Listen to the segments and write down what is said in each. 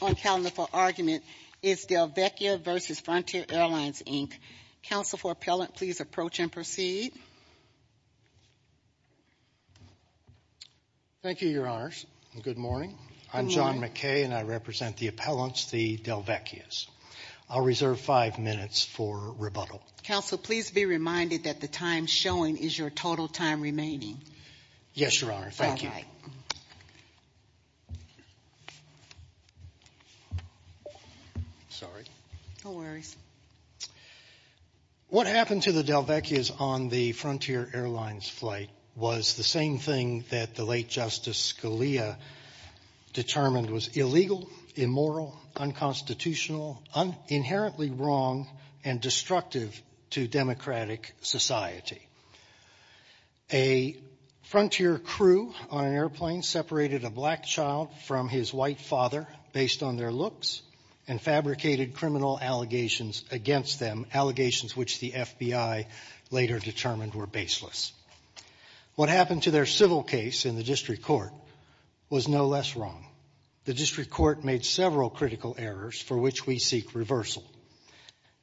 On calendar for argument is DelVecchia v. Frontier Airlines, Inc. Counsel for appellant, please approach and proceed. Thank you, Your Honors. Good morning. I'm John McKay and I represent the appellants, the DelVecchias. I'll reserve five minutes for rebuttal. Counsel, please be reminded that the time showing is your total time remaining. Yes, Your Honor. Thank you. Sorry. No worries. What happened to the DelVecchias on the Frontier Airlines flight was the same thing that the late Justice Scalia determined was illegal, immoral, unconstitutional, inherently wrong, and destructive to democratic society. A Frontier crew on an airplane separated a black child from his white father based on their looks and fabricated criminal allegations against them, allegations which the FBI later determined were baseless. What happened to their civil case in the district court was no less wrong. The district court made several critical errors for which we seek reversal.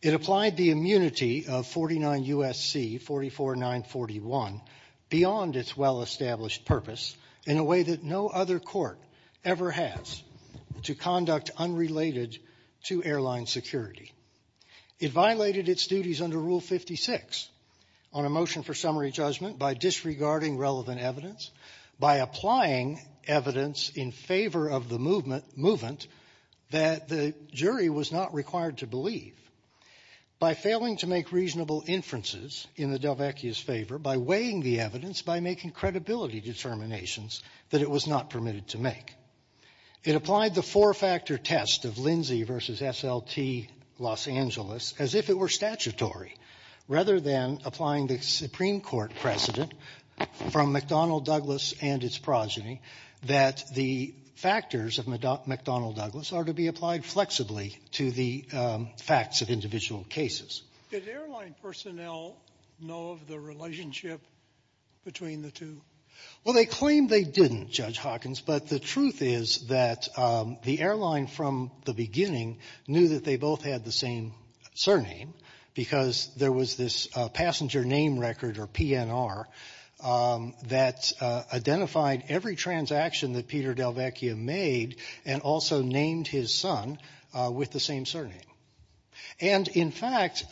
It applied the immunity of 49 U.S.C. 44941 beyond its well established purpose in a way that no other court ever has to conduct unrelated to airline security. It violated its duties under Rule 56 on a motion for summary judgment by disregarding relevant evidence, by applying evidence in favor of the movement that the jury was not required to believe, by failing to make reasonable inferences in the DelVecchias' favor, by weighing the evidence, by making credibility determinations that it was not permitted to make. It applied the four-factor test of Lindsay versus SLT Los Angeles as if it were statutory, rather than applying the Supreme Court precedent from McDonnell Douglas and its progeny that the factors of McDonnell Douglas are to be applied flexibly to the facts of individual cases. Did airline personnel know of a relationship between the two? Well, they claimed they didn't, Judge Hawkins, but the truth is that the airline from the beginning knew that they both had the same surname because there was this passenger name record, or PNR, that identified every transaction that Peter DelVecchia made and also named his son with the same surname. And in fact,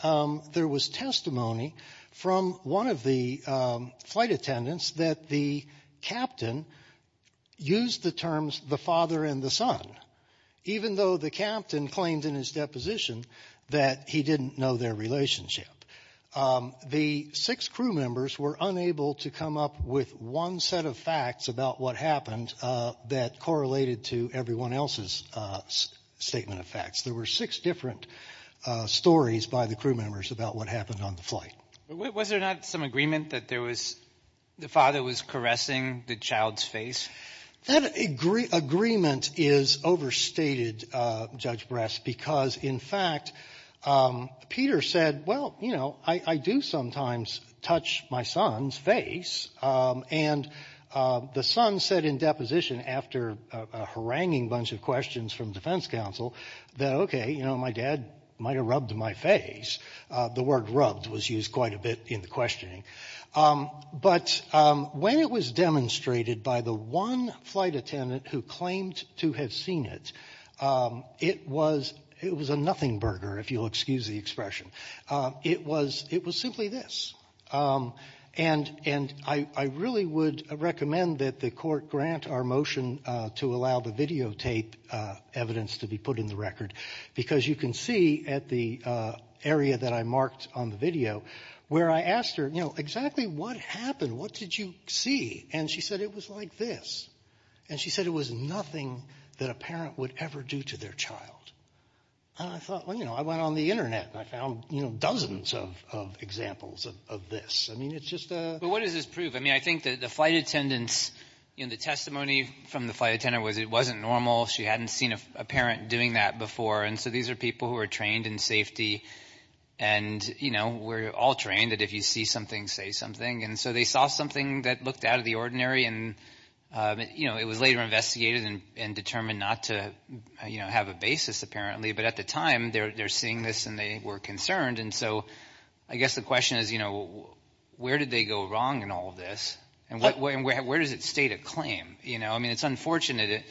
there was testimony from one of the flight attendants that the captain used the terms the father and the son, even though the captain claimed in his deposition that he didn't know their relationship. The six crew members were unable to come up with one set of facts about what happened that correlated to everyone else's statement of facts. There were six different stories by the crew members about what happened on the flight. Was there not some agreement that there was, the father was caressing the child's face? That agreement is overstated, Judge Brass, because in fact, Peter said, well, you know, I do sometimes touch my son's face, and the son said in deposition after a haranguing bunch of questions from defense counsel that, okay, you know, my dad might have rubbed my face. The word rubbed was used quite a bit in the questioning. But when it was demonstrated by the one flight attendant who claimed to have seen it, it was a nothing burger, if you'll excuse the expression. It was simply this. And I really would recommend that the court grant our motion to allow the videotape evidence to be put in the record, because you can see at the area that I marked on the video where I asked her, you know, exactly what happened? What did you see? And she said it was like this. And she said it was nothing that a parent would ever do to their child. And I thought, well, you know, I went on the internet, and I found, you know, dozens of examples of this. I mean, it's just a... But what does this prove? I mean, I think that the flight attendants, you know, the testimony from the flight attendant was it wasn't normal. She hadn't seen a parent doing that before. And so these are people who are trained in safety. And, you know, we're all trained that if you see something, say something. And so they saw something that looked out of the ordinary. And, you know, it was later investigated and determined not to, you know, have a basis, apparently. But at the time, they're seeing this, and they were concerned. And so I guess the question is, you know, where did they go wrong in all of this? And where does it state a claim? You know, I mean, it's unfortunate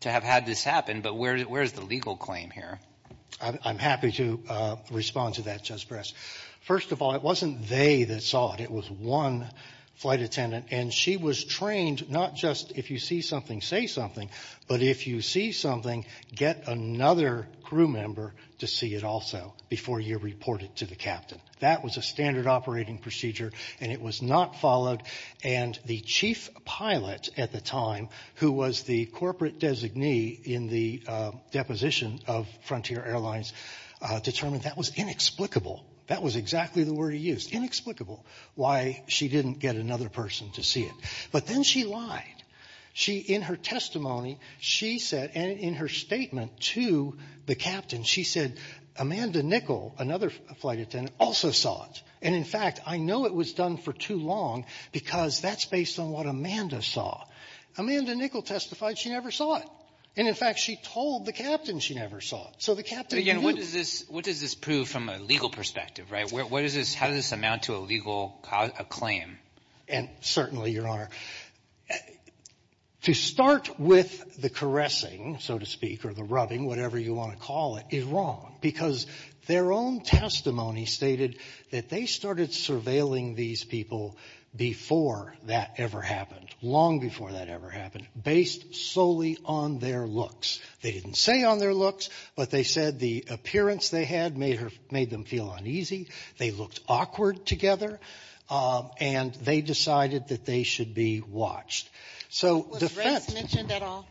to have had this happen. But where's the legal claim here? I'm happy to respond to that, Judge Bress. First of all, it wasn't they that saw it. It was one flight attendant. And she was trained not just if you see something, say something. But if you see something, get another crew member to see it also before you report it to the captain. That was a standard operating procedure. And it was not followed. And the chief pilot at the time, who was the corporate designee in the deposition of Frontier Airlines, determined that was inexplicable. That was exactly the word he used. Inexplicable. Why she didn't get another person to see it. But then she lied. In her testimony, she said, and in her statement to the captain, she said, Amanda Nicol, another flight attendant, also saw it. And in fact, I know it was done for too long because that's based on what Amanda saw. Amanda Nicol testified she never saw it. And in fact, she told the captain she never saw it. So the captain knew. What does this prove from a legal perspective, right? How does this amount to a legal claim? And certainly, Your Honor, to start with the caressing, so to speak, or the rubbing, whatever you want to call it, is wrong. Because their own testimony stated that they started surveilling these people before that ever happened, long before that ever happened, based solely on their looks. They didn't say on their looks, but they said the appearance they had made them feel uneasy. They looked awkward together. And they decided that they should be watched. So defense... Was race mentioned at all?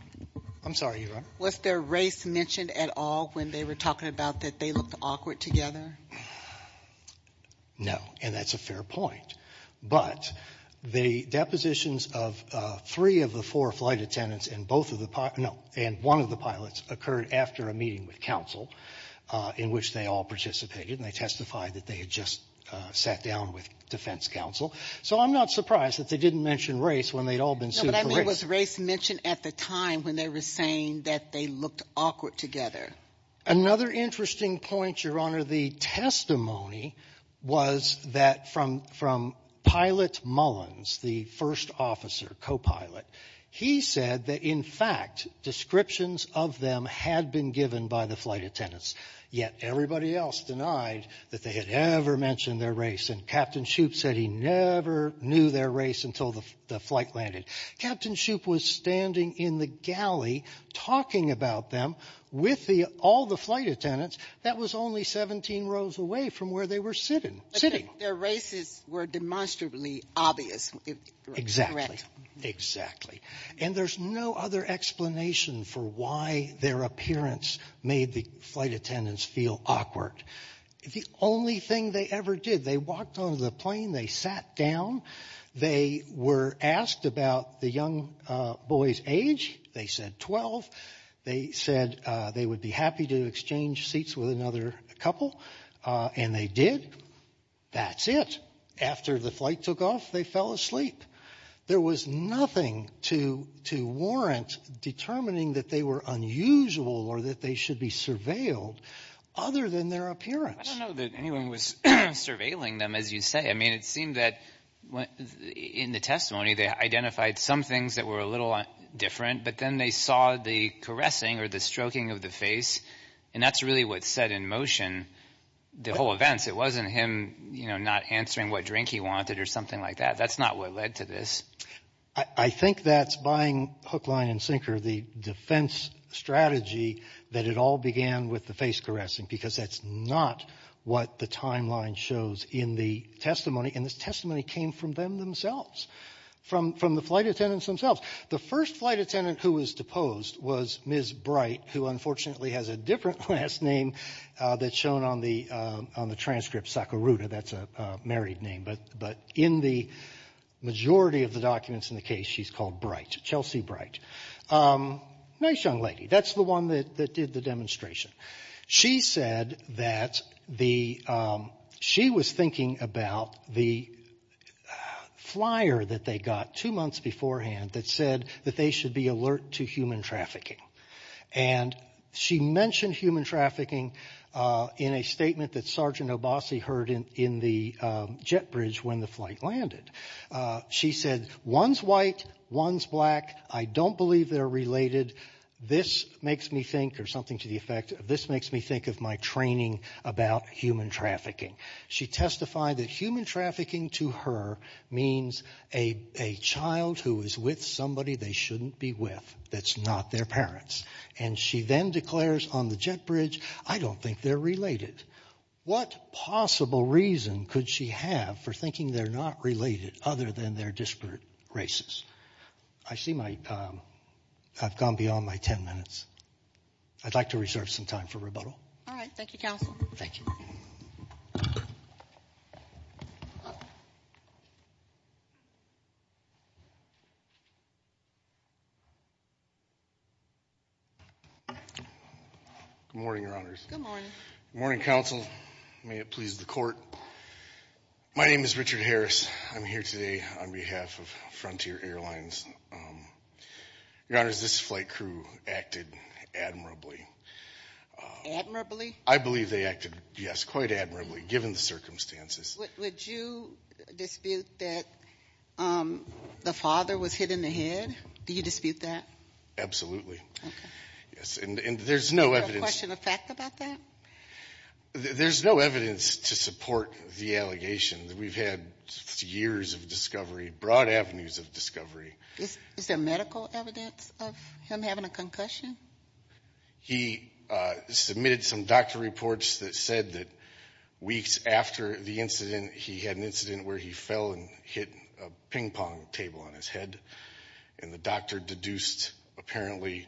I'm sorry, Your Honor? Was their race mentioned at all when they were talking about that they looked awkward together? No. And that's a fair point. But the depositions of three of the four flight attendants and both of the pilots, no, and one of the pilots occurred after a meeting with counsel in which they all participated. And they testified that they had just sat down with defense counsel. So I'm not surprised that they didn't mention race when they'd all been sued for race. No, but I mean, was race mentioned at the time when they were saying that they looked awkward together? Another interesting point, Your Honor, the testimony was that from Pilot Mullins, the first officer, co-pilot, he said that in fact descriptions of them had been given by the flight attendants, yet everybody else denied that they had ever mentioned their race. And Captain Shoup said he never knew their race until the flight landed. Captain Shoup was standing in the galley talking about them with all the flight attendants that was only 17 rows away from where they were sitting. Their races were demonstrably obvious. Exactly. Exactly. And there's no other explanation for why their appearance made the flight attendants feel awkward. The only thing they ever did, they walked onto the plane, they sat down, they were asked about the young boy's age. They said 12. They said they would be happy to exchange seats with another couple. And they did. That's it. After the flight took off, they fell asleep. There was nothing to warrant determining that they were unusual or that they should be surveilled other than their appearance. I don't know that anyone was surveilling them, as you say. I mean, it seemed that in the testimony they identified some things that were a little different, but then they saw the caressing or the stroking of the face. And that's really what set in motion the whole events. It wasn't him, you know, not answering what drink he wanted or something like that. That's not what led to this. I think that's buying Hook, Line, and Sinker, the defense strategy, that it all began with the face caressing, because that's not what the timeline shows in the testimony. And this testimony came from them themselves, from the flight attendants themselves. The first flight attendant who was deposed was Ms. Bright, who unfortunately has a different last name that's shown on the transcript, Sakuruda. That's a married name. But in the majority of the documents in the case, she's called Bright, Chelsea Bright. A nice young lady. That's the one that did the demonstration. She said that she was thinking about the flyer that they got two months beforehand that said that they should be alert to human trafficking. And she mentioned human trafficking in a statement that Sergeant Obasi heard in the jet bridge when the flight landed. She said, one's white, one's black, I don't believe they're related. This makes me think, or something to the effect, this makes me think of my training about human trafficking. She testified that human trafficking to her means a child who is with somebody they shouldn't be with that's not their parents. And she then declares on the jet bridge, I don't think they're related. What possible reason could she have for thinking they're not related other than they're disparate races? I see my, I've gone beyond my 10 minutes. I'd like to reserve some time for rebuttal. All right. Thank you, counsel. Thank you. Good morning, Your Honors. Good morning. Good morning, counsel. May it please the court. My name is Richard Harris. I'm here today on behalf of Frontier Airlines. Your Honors, this flight crew acted admirably. I believe they acted, yes, quite admirably, given the circumstances. Would you dispute that the father was hit in the head? Do you dispute that? Absolutely. Yes, and there's no evidence. Question of fact about that? There's no evidence to support the allegation that we've had years of discovery, broad avenues of discovery. Is there medical evidence of him having a concussion? He submitted some doctor reports that said that weeks after the incident, he had an incident where he fell and hit a ping pong table on his head. And the doctor deduced, apparently,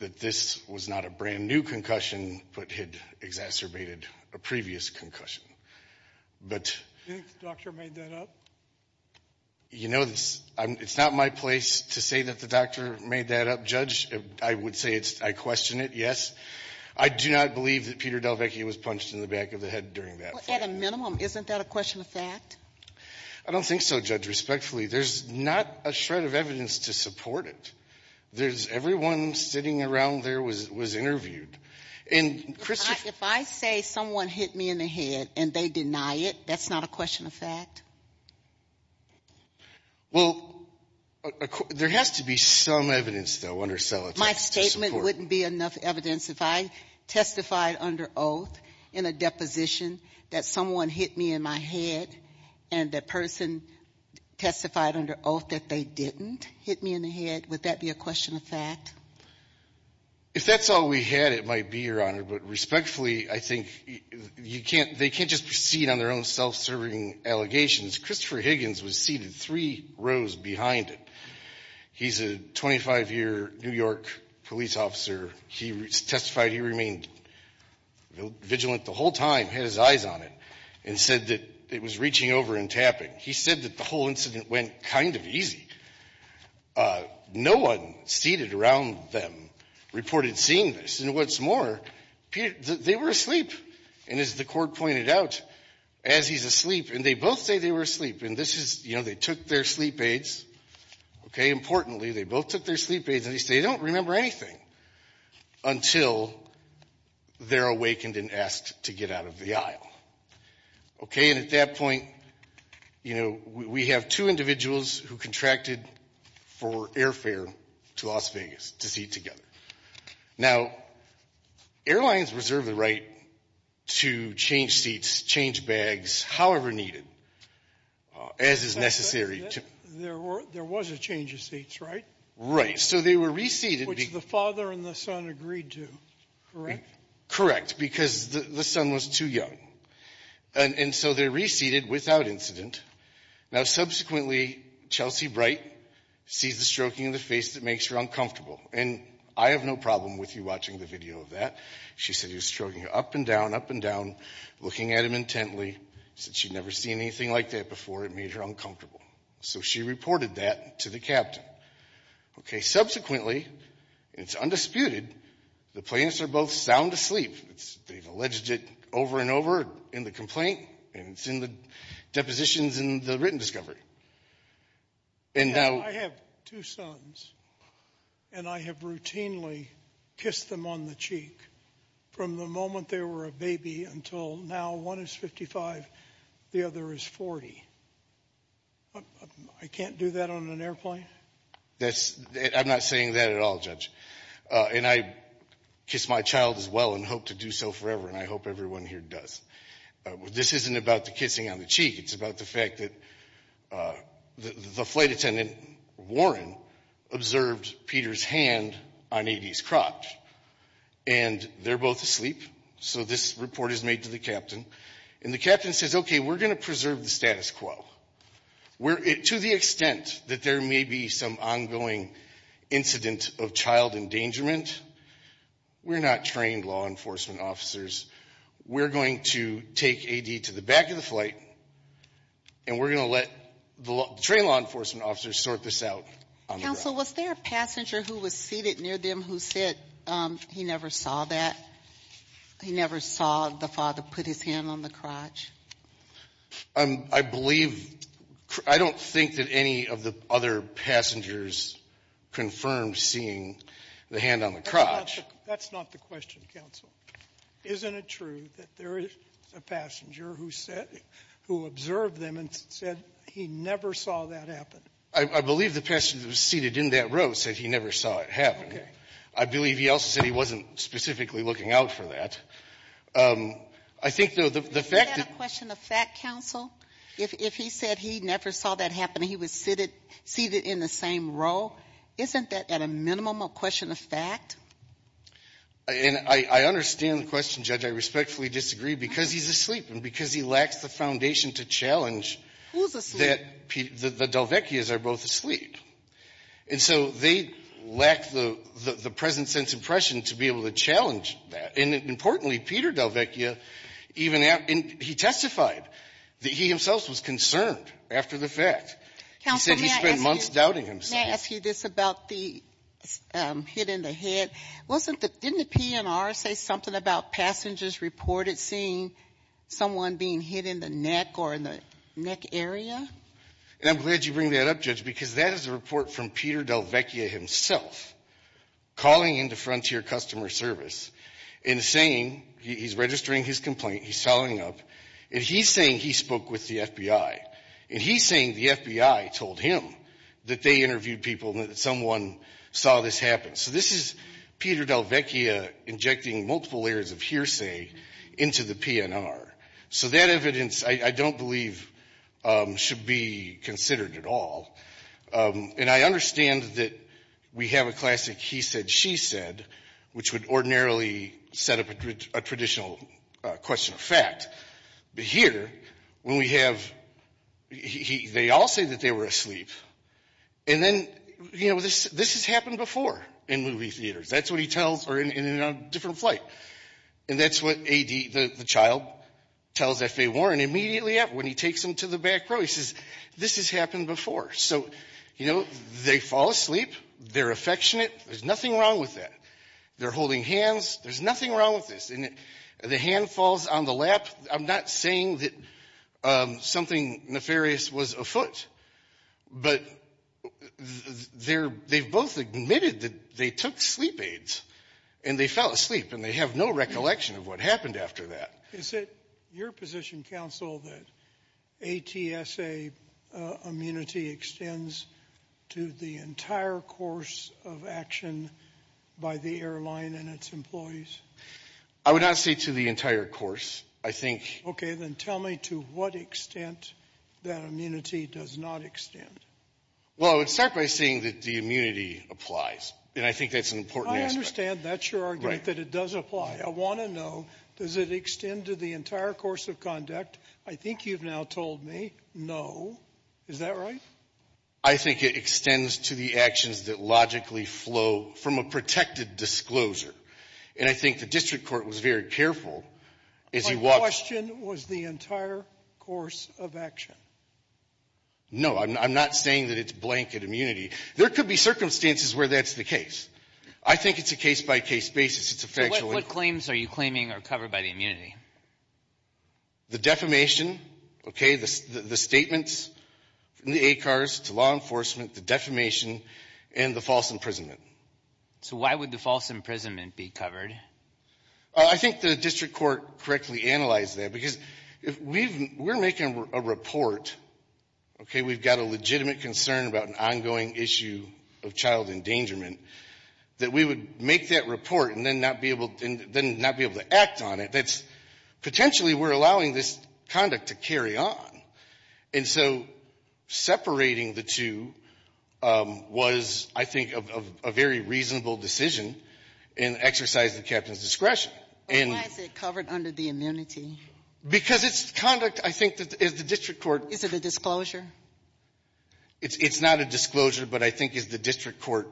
that this was not a brand new concussion, but had exacerbated a previous concussion. Do you think the doctor made that up? You know, it's not my place to say that the doctor made that up, Judge. I would say I question it, yes. I do not believe that Peter Delvecchia was punched in the back of the head during that flight. At a minimum, isn't that a question of fact? I don't think so, Judge. Respectfully, there's not a shred of evidence to support it. There's, everyone sitting around there was interviewed. And, Krista? If I say someone hit me in the head and they deny it, that's not a question of fact? Well, there has to be some evidence, though, under cell attacks to support it. My statement wouldn't be enough evidence. If I testified under oath in a deposition that someone hit me in my head, and the person testified under oath that they didn't hit me in the head, would that be a question of fact? If that's all we had, it might be, Your Honor. But, respectfully, I think they can't just proceed on their own self-serving allegations. Christopher Higgins was seated three rows behind him. He's a 25-year New York police officer. He testified he remained vigilant the whole time, had his eyes on it, and said that it was reaching over and tapping. He said that the whole incident went kind of easy. No one seated around them reported seeing this. And, what's more, they were asleep. And, as the court pointed out, as he's asleep, and they both say they were asleep, and this is, you know, they took their sleep aids, okay? Importantly, they both took their sleep aids, and they say they don't remember anything until they're awakened and asked to get out of the aisle, okay? And, at that point, you know, we have two individuals who contracted for airfare to Las Vegas to seat together. Now, airlines reserve the right to change seats, change bags, however needed, as is necessary. There was a change of seats, right? Right. So they were reseated. Which the father and the son agreed to, correct? Correct, because the son was too young. And so they're reseated without incident. Now, subsequently, Chelsea Bright sees the stroking of the face that makes her uncomfortable. And I have no problem with you watching the video of that. She said he was stroking her up and down, up and down, looking at him intently. Said she'd never seen anything like that before. It made her uncomfortable. So she reported that to the captain, okay? Subsequently, and it's undisputed, the plaintiffs are both sound asleep. They've alleged it over and over in the complaint, and it's in the depositions in the written discovery. I have two sons, and I have routinely kissed them on the cheek from the moment they were a baby until now. One is 55. The other is 40. I can't do that on an airplane? I'm not saying that at all, Judge. And I kiss my child as well and hope to do so forever. I hope everyone here does. This isn't about the kissing on the cheek. It's about the fact that the flight attendant, Warren, observed Peter's hand on A.D.'s crotch. And they're both asleep. So this report is made to the captain. And the captain says, okay, we're going to preserve the status quo. To the extent that there may be some ongoing incident of child endangerment, we're not trained law enforcement officers. We're going to take A.D. to the back of the flight, and we're going to let the trained law enforcement officers sort this out. Counsel, was there a passenger who was seated near them who said he never saw that? He never saw the father put his hand on the crotch? I believe. I don't think that any of the other passengers confirmed seeing the hand on the crotch. That's not the question, Counsel. Isn't it true that there is a passenger who said who observed them and said he never saw that happen? I believe the passenger who was seated in that row said he never saw it happen. Okay. I believe he also said he wasn't specifically looking out for that. I think, though, the fact that the question of fact, Counsel, if he said he never saw that happen, he was seated in the same row, isn't that at a minimum a question of fact? And I understand the question, Judge. I respectfully disagree, because he's asleep and because he lacks the foundation to challenge that the Delvecchia's are both asleep. And so they lack the present sense impression to be able to challenge that. And importantly, Peter Delvecchia even he testified that he himself was concerned after the fact. Counsel, may I ask you this about the hit in the head? Didn't the PNR say something about passengers reported seeing someone being hit in the neck or in the neck area? And I'm glad you bring that up, Judge, because that is a report from Peter Delvecchia himself calling into Frontier Customer Service and saying he's registering his complaint, he's following up, and he's saying he spoke with the FBI. And he's saying the FBI told him that they interviewed people and that someone saw this happen. So this is Peter Delvecchia injecting multiple layers of hearsay into the PNR. So that evidence, I don't believe, should be considered at all. And I understand that we have a classic he said, she said, which would ordinarily set up a traditional question of fact. But here, when we have, they all say that they were asleep. And then, you know, this has happened before in movie theaters. That's what he tells, or in a different flight. And that's what A.D., the child, tells F.A. Warren immediately when he takes them to the back row. He says, this has happened before. So, you know, they fall asleep. They're affectionate. There's nothing wrong with that. They're holding hands. There's nothing wrong with this. And the hand falls on the lap. I'm not saying that something nefarious was afoot. But they're, they've both admitted that they took sleep aids and they fell asleep. And they have no recollection of what happened after that. Is it your position, counsel, that ATSA immunity extends to the entire course of action by the airline and its employees? I would not say to the entire course. I think. Okay. Then tell me to what extent that immunity does not extend. Well, I would start by saying that the immunity applies. And I think that's an important. I understand that's your argument, that it does apply. I want to know, does it extend to the entire course of conduct? I think you've now told me no. Is that right? I think it extends to the actions that logically flow from a protected disclosure. And I think the district court was very careful. My question was the entire course of action. No, I'm not saying that it's blanket immunity. There could be circumstances where that's the case. I think it's a case-by-case basis. It's a factual. What claims are you claiming are covered by the immunity? The defamation, okay, the statements from the ACARS to law enforcement, the defamation and the false imprisonment. So why would the false imprisonment be covered? I think the district court correctly analyzed that. Because if we've, we're making a report, okay, we've got a legitimate concern about an ongoing issue of child endangerment, that we would make that report and then not be able to act on it, that's potentially we're allowing this conduct to carry on. And so separating the two was, I think, a very reasonable decision in exercise of the captain's discretion. But why is it covered under the immunity? Because it's conduct, I think, that the district court Is it a disclosure? It's not a disclosure, but I think it's the district court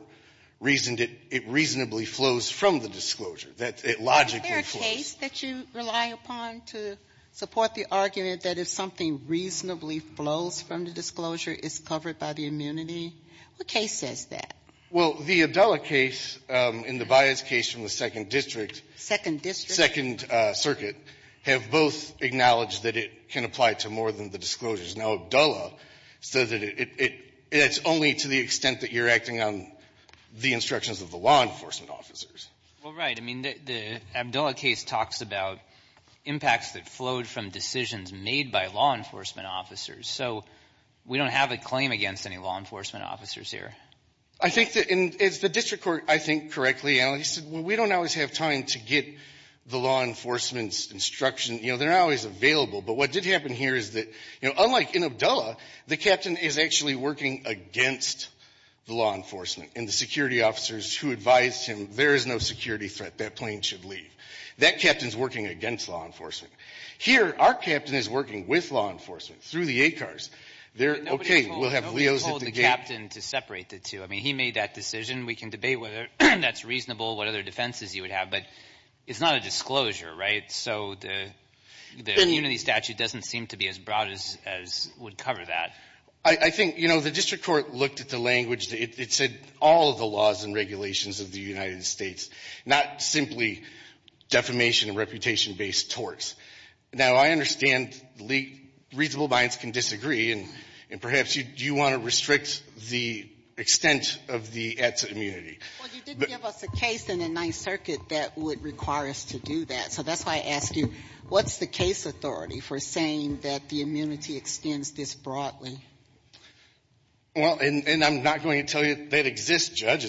reasoned it reasonably flows from the disclosure, that it logically flows. Is there a case that you rely upon to support the argument that if something reasonably flows from the disclosure, it's covered by the immunity? What case says that? Well, the Abdullah case and the Bias case from the second district Second district? Circuit have both acknowledged that it can apply to more than the disclosures. Now, Abdullah says that it's only to the extent that you're acting on the instructions of the law enforcement officers. Well, right. I mean, the Abdullah case talks about impacts that flowed from decisions made by law enforcement officers. So we don't have a claim against any law enforcement officers here. I think that in the district court, I think, correctly analyzed, well, we don't always have time to get the law enforcement's instruction. You know, they're not always available. But what did happen here is that, you know, unlike in Abdullah, the captain is actually working against the law enforcement and the security officers who advised him there is no security threat. That plane should leave. That captain's working against law enforcement. Here, our captain is working with law enforcement through the ACARS. They're OK. We'll have Leo's. Nobody told the captain to separate the two. I mean, he made that decision. We can debate whether that's reasonable, what other defenses you would have. But it's not a disclosure, right? So the immunity statute doesn't seem to be as broad as would cover that. I think, you know, the district court looked at the language. It said all of the laws and regulations of the United States, not simply defamation and reputation-based torts. Now, I understand reasonable minds can disagree. And perhaps you want to restrict the extent of the ETSA immunity. Well, you did give us a case in the Ninth Circuit that would require us to do that. So that's why I asked you, what's the case authority for saying that the immunity extends this broadly? Well, and I'm not going to tell you that exists, Judge.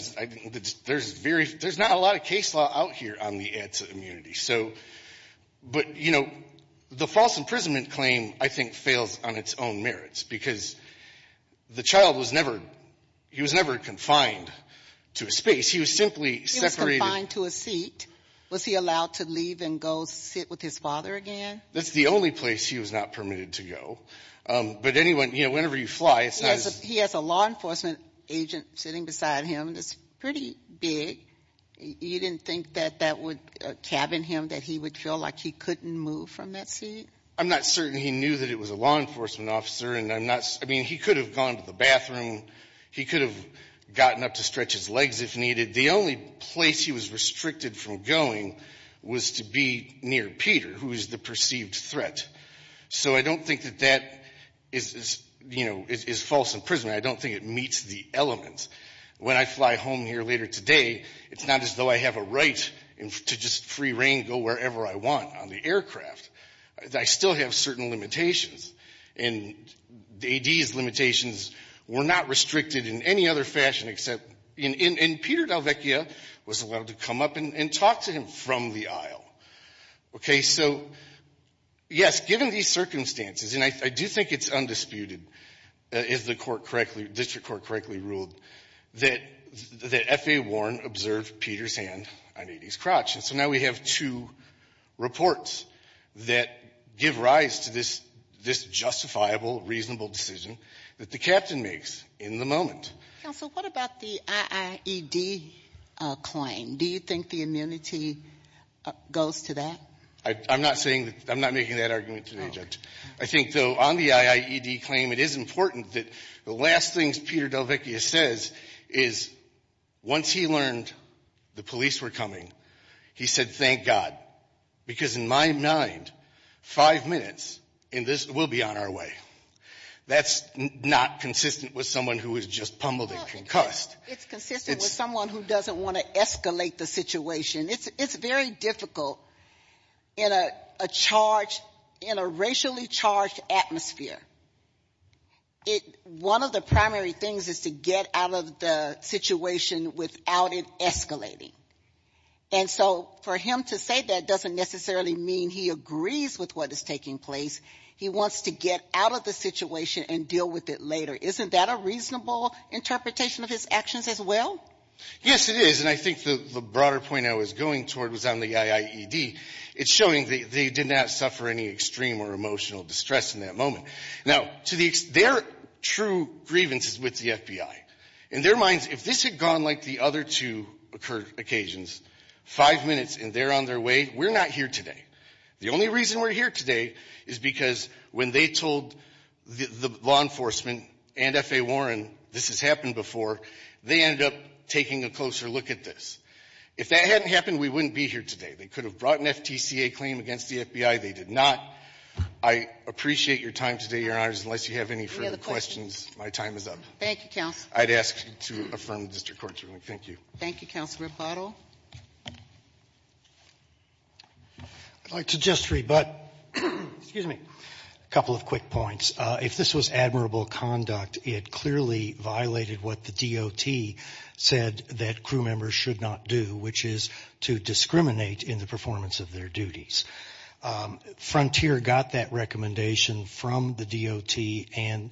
There's not a lot of case law out here on the ETSA immunity. So, but, you know, the false imprisonment claim, I think, fails on its own merits. Because the child was never, he was never confined to a space. He was simply separated. He was confined to a seat. Was he allowed to leave and go sit with his father again? That's the only place he was not permitted to go. But anyone, you know, whenever you fly, it's not as. He has a law enforcement agent sitting beside him. It's pretty big. You didn't think that that would cabin him, that he would feel like he couldn't move from that seat? I'm not certain he knew that it was a law enforcement officer. And I'm not. I mean, he could have gone to the bathroom. He could have gotten up to stretch his legs if needed. The only place he was restricted from going was to be near Peter, who is the perceived threat. So I don't think that that is, you know, is false imprisonment. I don't think it meets the element. When I fly home here later today, it's not as though I have a right to just free reign, go wherever I want on the aircraft. I still have certain limitations. And the AD's limitations were not restricted in any other fashion except in Peter Dalvecchia was allowed to come up and talk to him from the aisle. OK, so yes, given these circumstances, and I do think it's undisputed, if the court district court correctly ruled, that F.A. Warren observed Peter's hand on AD's crotch. And so now we have two reports that give rise to this justifiable, reasonable decision that the captain makes in the moment. Counsel, what about the IIED claim? Do you think the amenity goes to that? I'm not saying that. I'm not making that argument today, Judge. I think, though, on the IIED claim, it is important that the last things Peter Dalvecchia says is once he learned the police were coming, he said, thank God, because in my mind, five minutes and this will be on our way. That's not consistent with someone who was just pummeled and concussed. It's consistent with someone who doesn't want to escalate the situation. It's very difficult in a charge, in a racially charged atmosphere. One of the primary things is to get out of the situation without it escalating. And so for him to say that doesn't necessarily mean he agrees with what is taking place. He wants to get out of the situation and deal with it later. Isn't that a reasonable interpretation of his actions as well? Yes, it is. And I think the broader point I was going toward was on the IIED. It's showing they did not suffer any extreme or emotional distress in that moment. Now, to their true grievances with the FBI, in their minds, if this had gone like the other two occasions, five minutes and they're on their way, we're not here today. The only reason we're here today is because when they told the law enforcement and F.A. If that hadn't happened, we wouldn't be here today. They could have brought an FTCA claim against the FBI. They did not. I appreciate your time today, Your Honors. Unless you have any further questions, my time is up. Thank you, counsel. I'd ask to affirm the district court's ruling. Thank you. Thank you, Counsel Rapato. I'd like to just rebut, excuse me, a couple of quick points. If this was admirable conduct, it clearly violated what the DOT said that crew members should not do, which is to discriminate in the performance of their duties. Frontier got that recommendation from the DOT and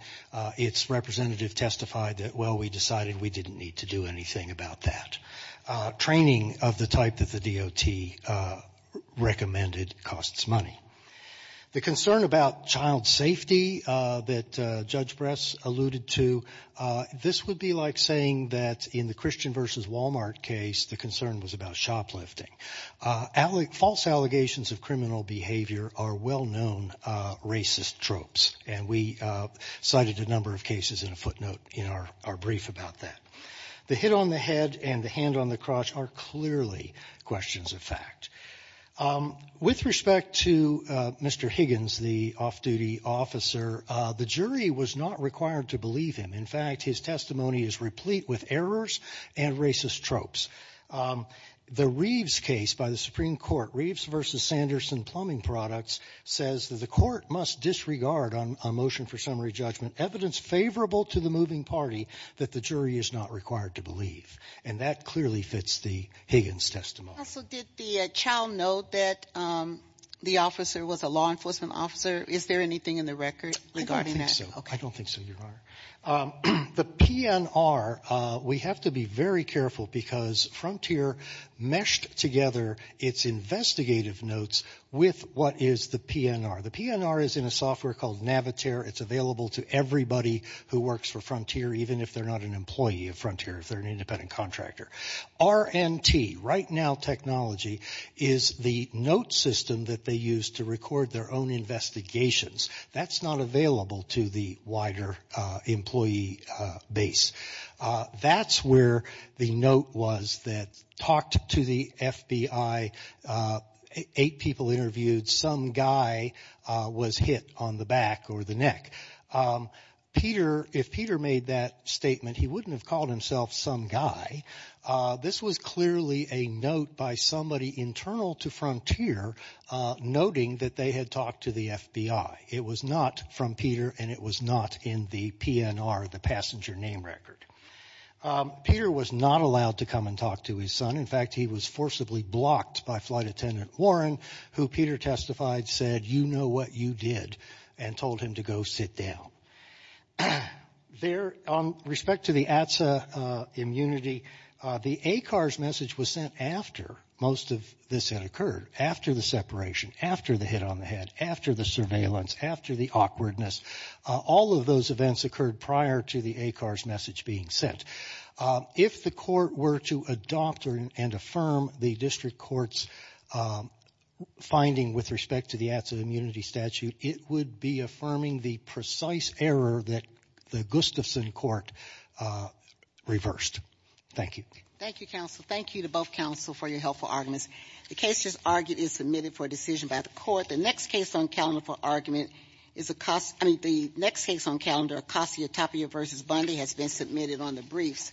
its representative testified that, well, we decided we didn't need to do anything about that. Training of the type that the DOT recommended costs money. The concern about child safety that Judge Bress alluded to, this would be like saying that in the Christian v. Walmart case, the concern was about shoplifting. False allegations of criminal behavior are well-known racist tropes. And we cited a number of cases in a footnote in our brief about that. The hit on the head and the hand on the crotch are clearly questions of fact. With respect to Mr. Higgins, the off-duty officer, the jury was not required to believe him. In fact, his testimony is replete with errors and racist tropes. The Reeves case by the Supreme Court, Reeves v. Sanderson Plumbing Products, says that the court must disregard on a motion for summary judgment evidence favorable to the moving party that the jury is not required to believe. And that clearly fits the Higgins testimony. Also, did the child note that the officer was a law enforcement officer? Is there anything in the record regarding that? I don't think so, Your Honor. The PNR, we have to be very careful because Frontier meshed together its investigative notes with what is the PNR. The PNR is in a software called Navitaire. It's available to everybody who works for Frontier, even if they're not an employee of Frontier, if they're an independent contractor. RNT, Right Now Technology, is the note system that they use to record their own investigations. That's not available to the wider employee base. That's where the note was that talked to the FBI, eight people interviewed, some guy was hit on the back or the neck. If Peter made that statement, he wouldn't have called himself some guy. This was clearly a note by somebody internal to Frontier, noting that they had talked to the FBI. It was not from Peter, and it was not in the PNR, the passenger name record. Peter was not allowed to come and talk to his son. In fact, he was forcibly blocked by Flight Attendant Warren, who Peter testified said, you know what you did, and told him to go sit down. There, on respect to the ATSA immunity, the ACARS message was sent after most of this had occurred, after the separation, after the hit on the head, after the surveillance, after the awkwardness. All of those events occurred prior to the ACARS message being sent. If the court were to adopt and affirm the district court's finding with respect to the ATSA immunity statute, it would be affirming the precise error that the Gustafson court reversed. Thank you. Thank you, counsel. Thank you to both counsel for your helpful arguments. The case just argued is submitted for decision by the court. The next case on calendar for argument is Acacia, I mean, the next case on calendar, Acacia Tapia v. Bondi has been submitted on the briefs.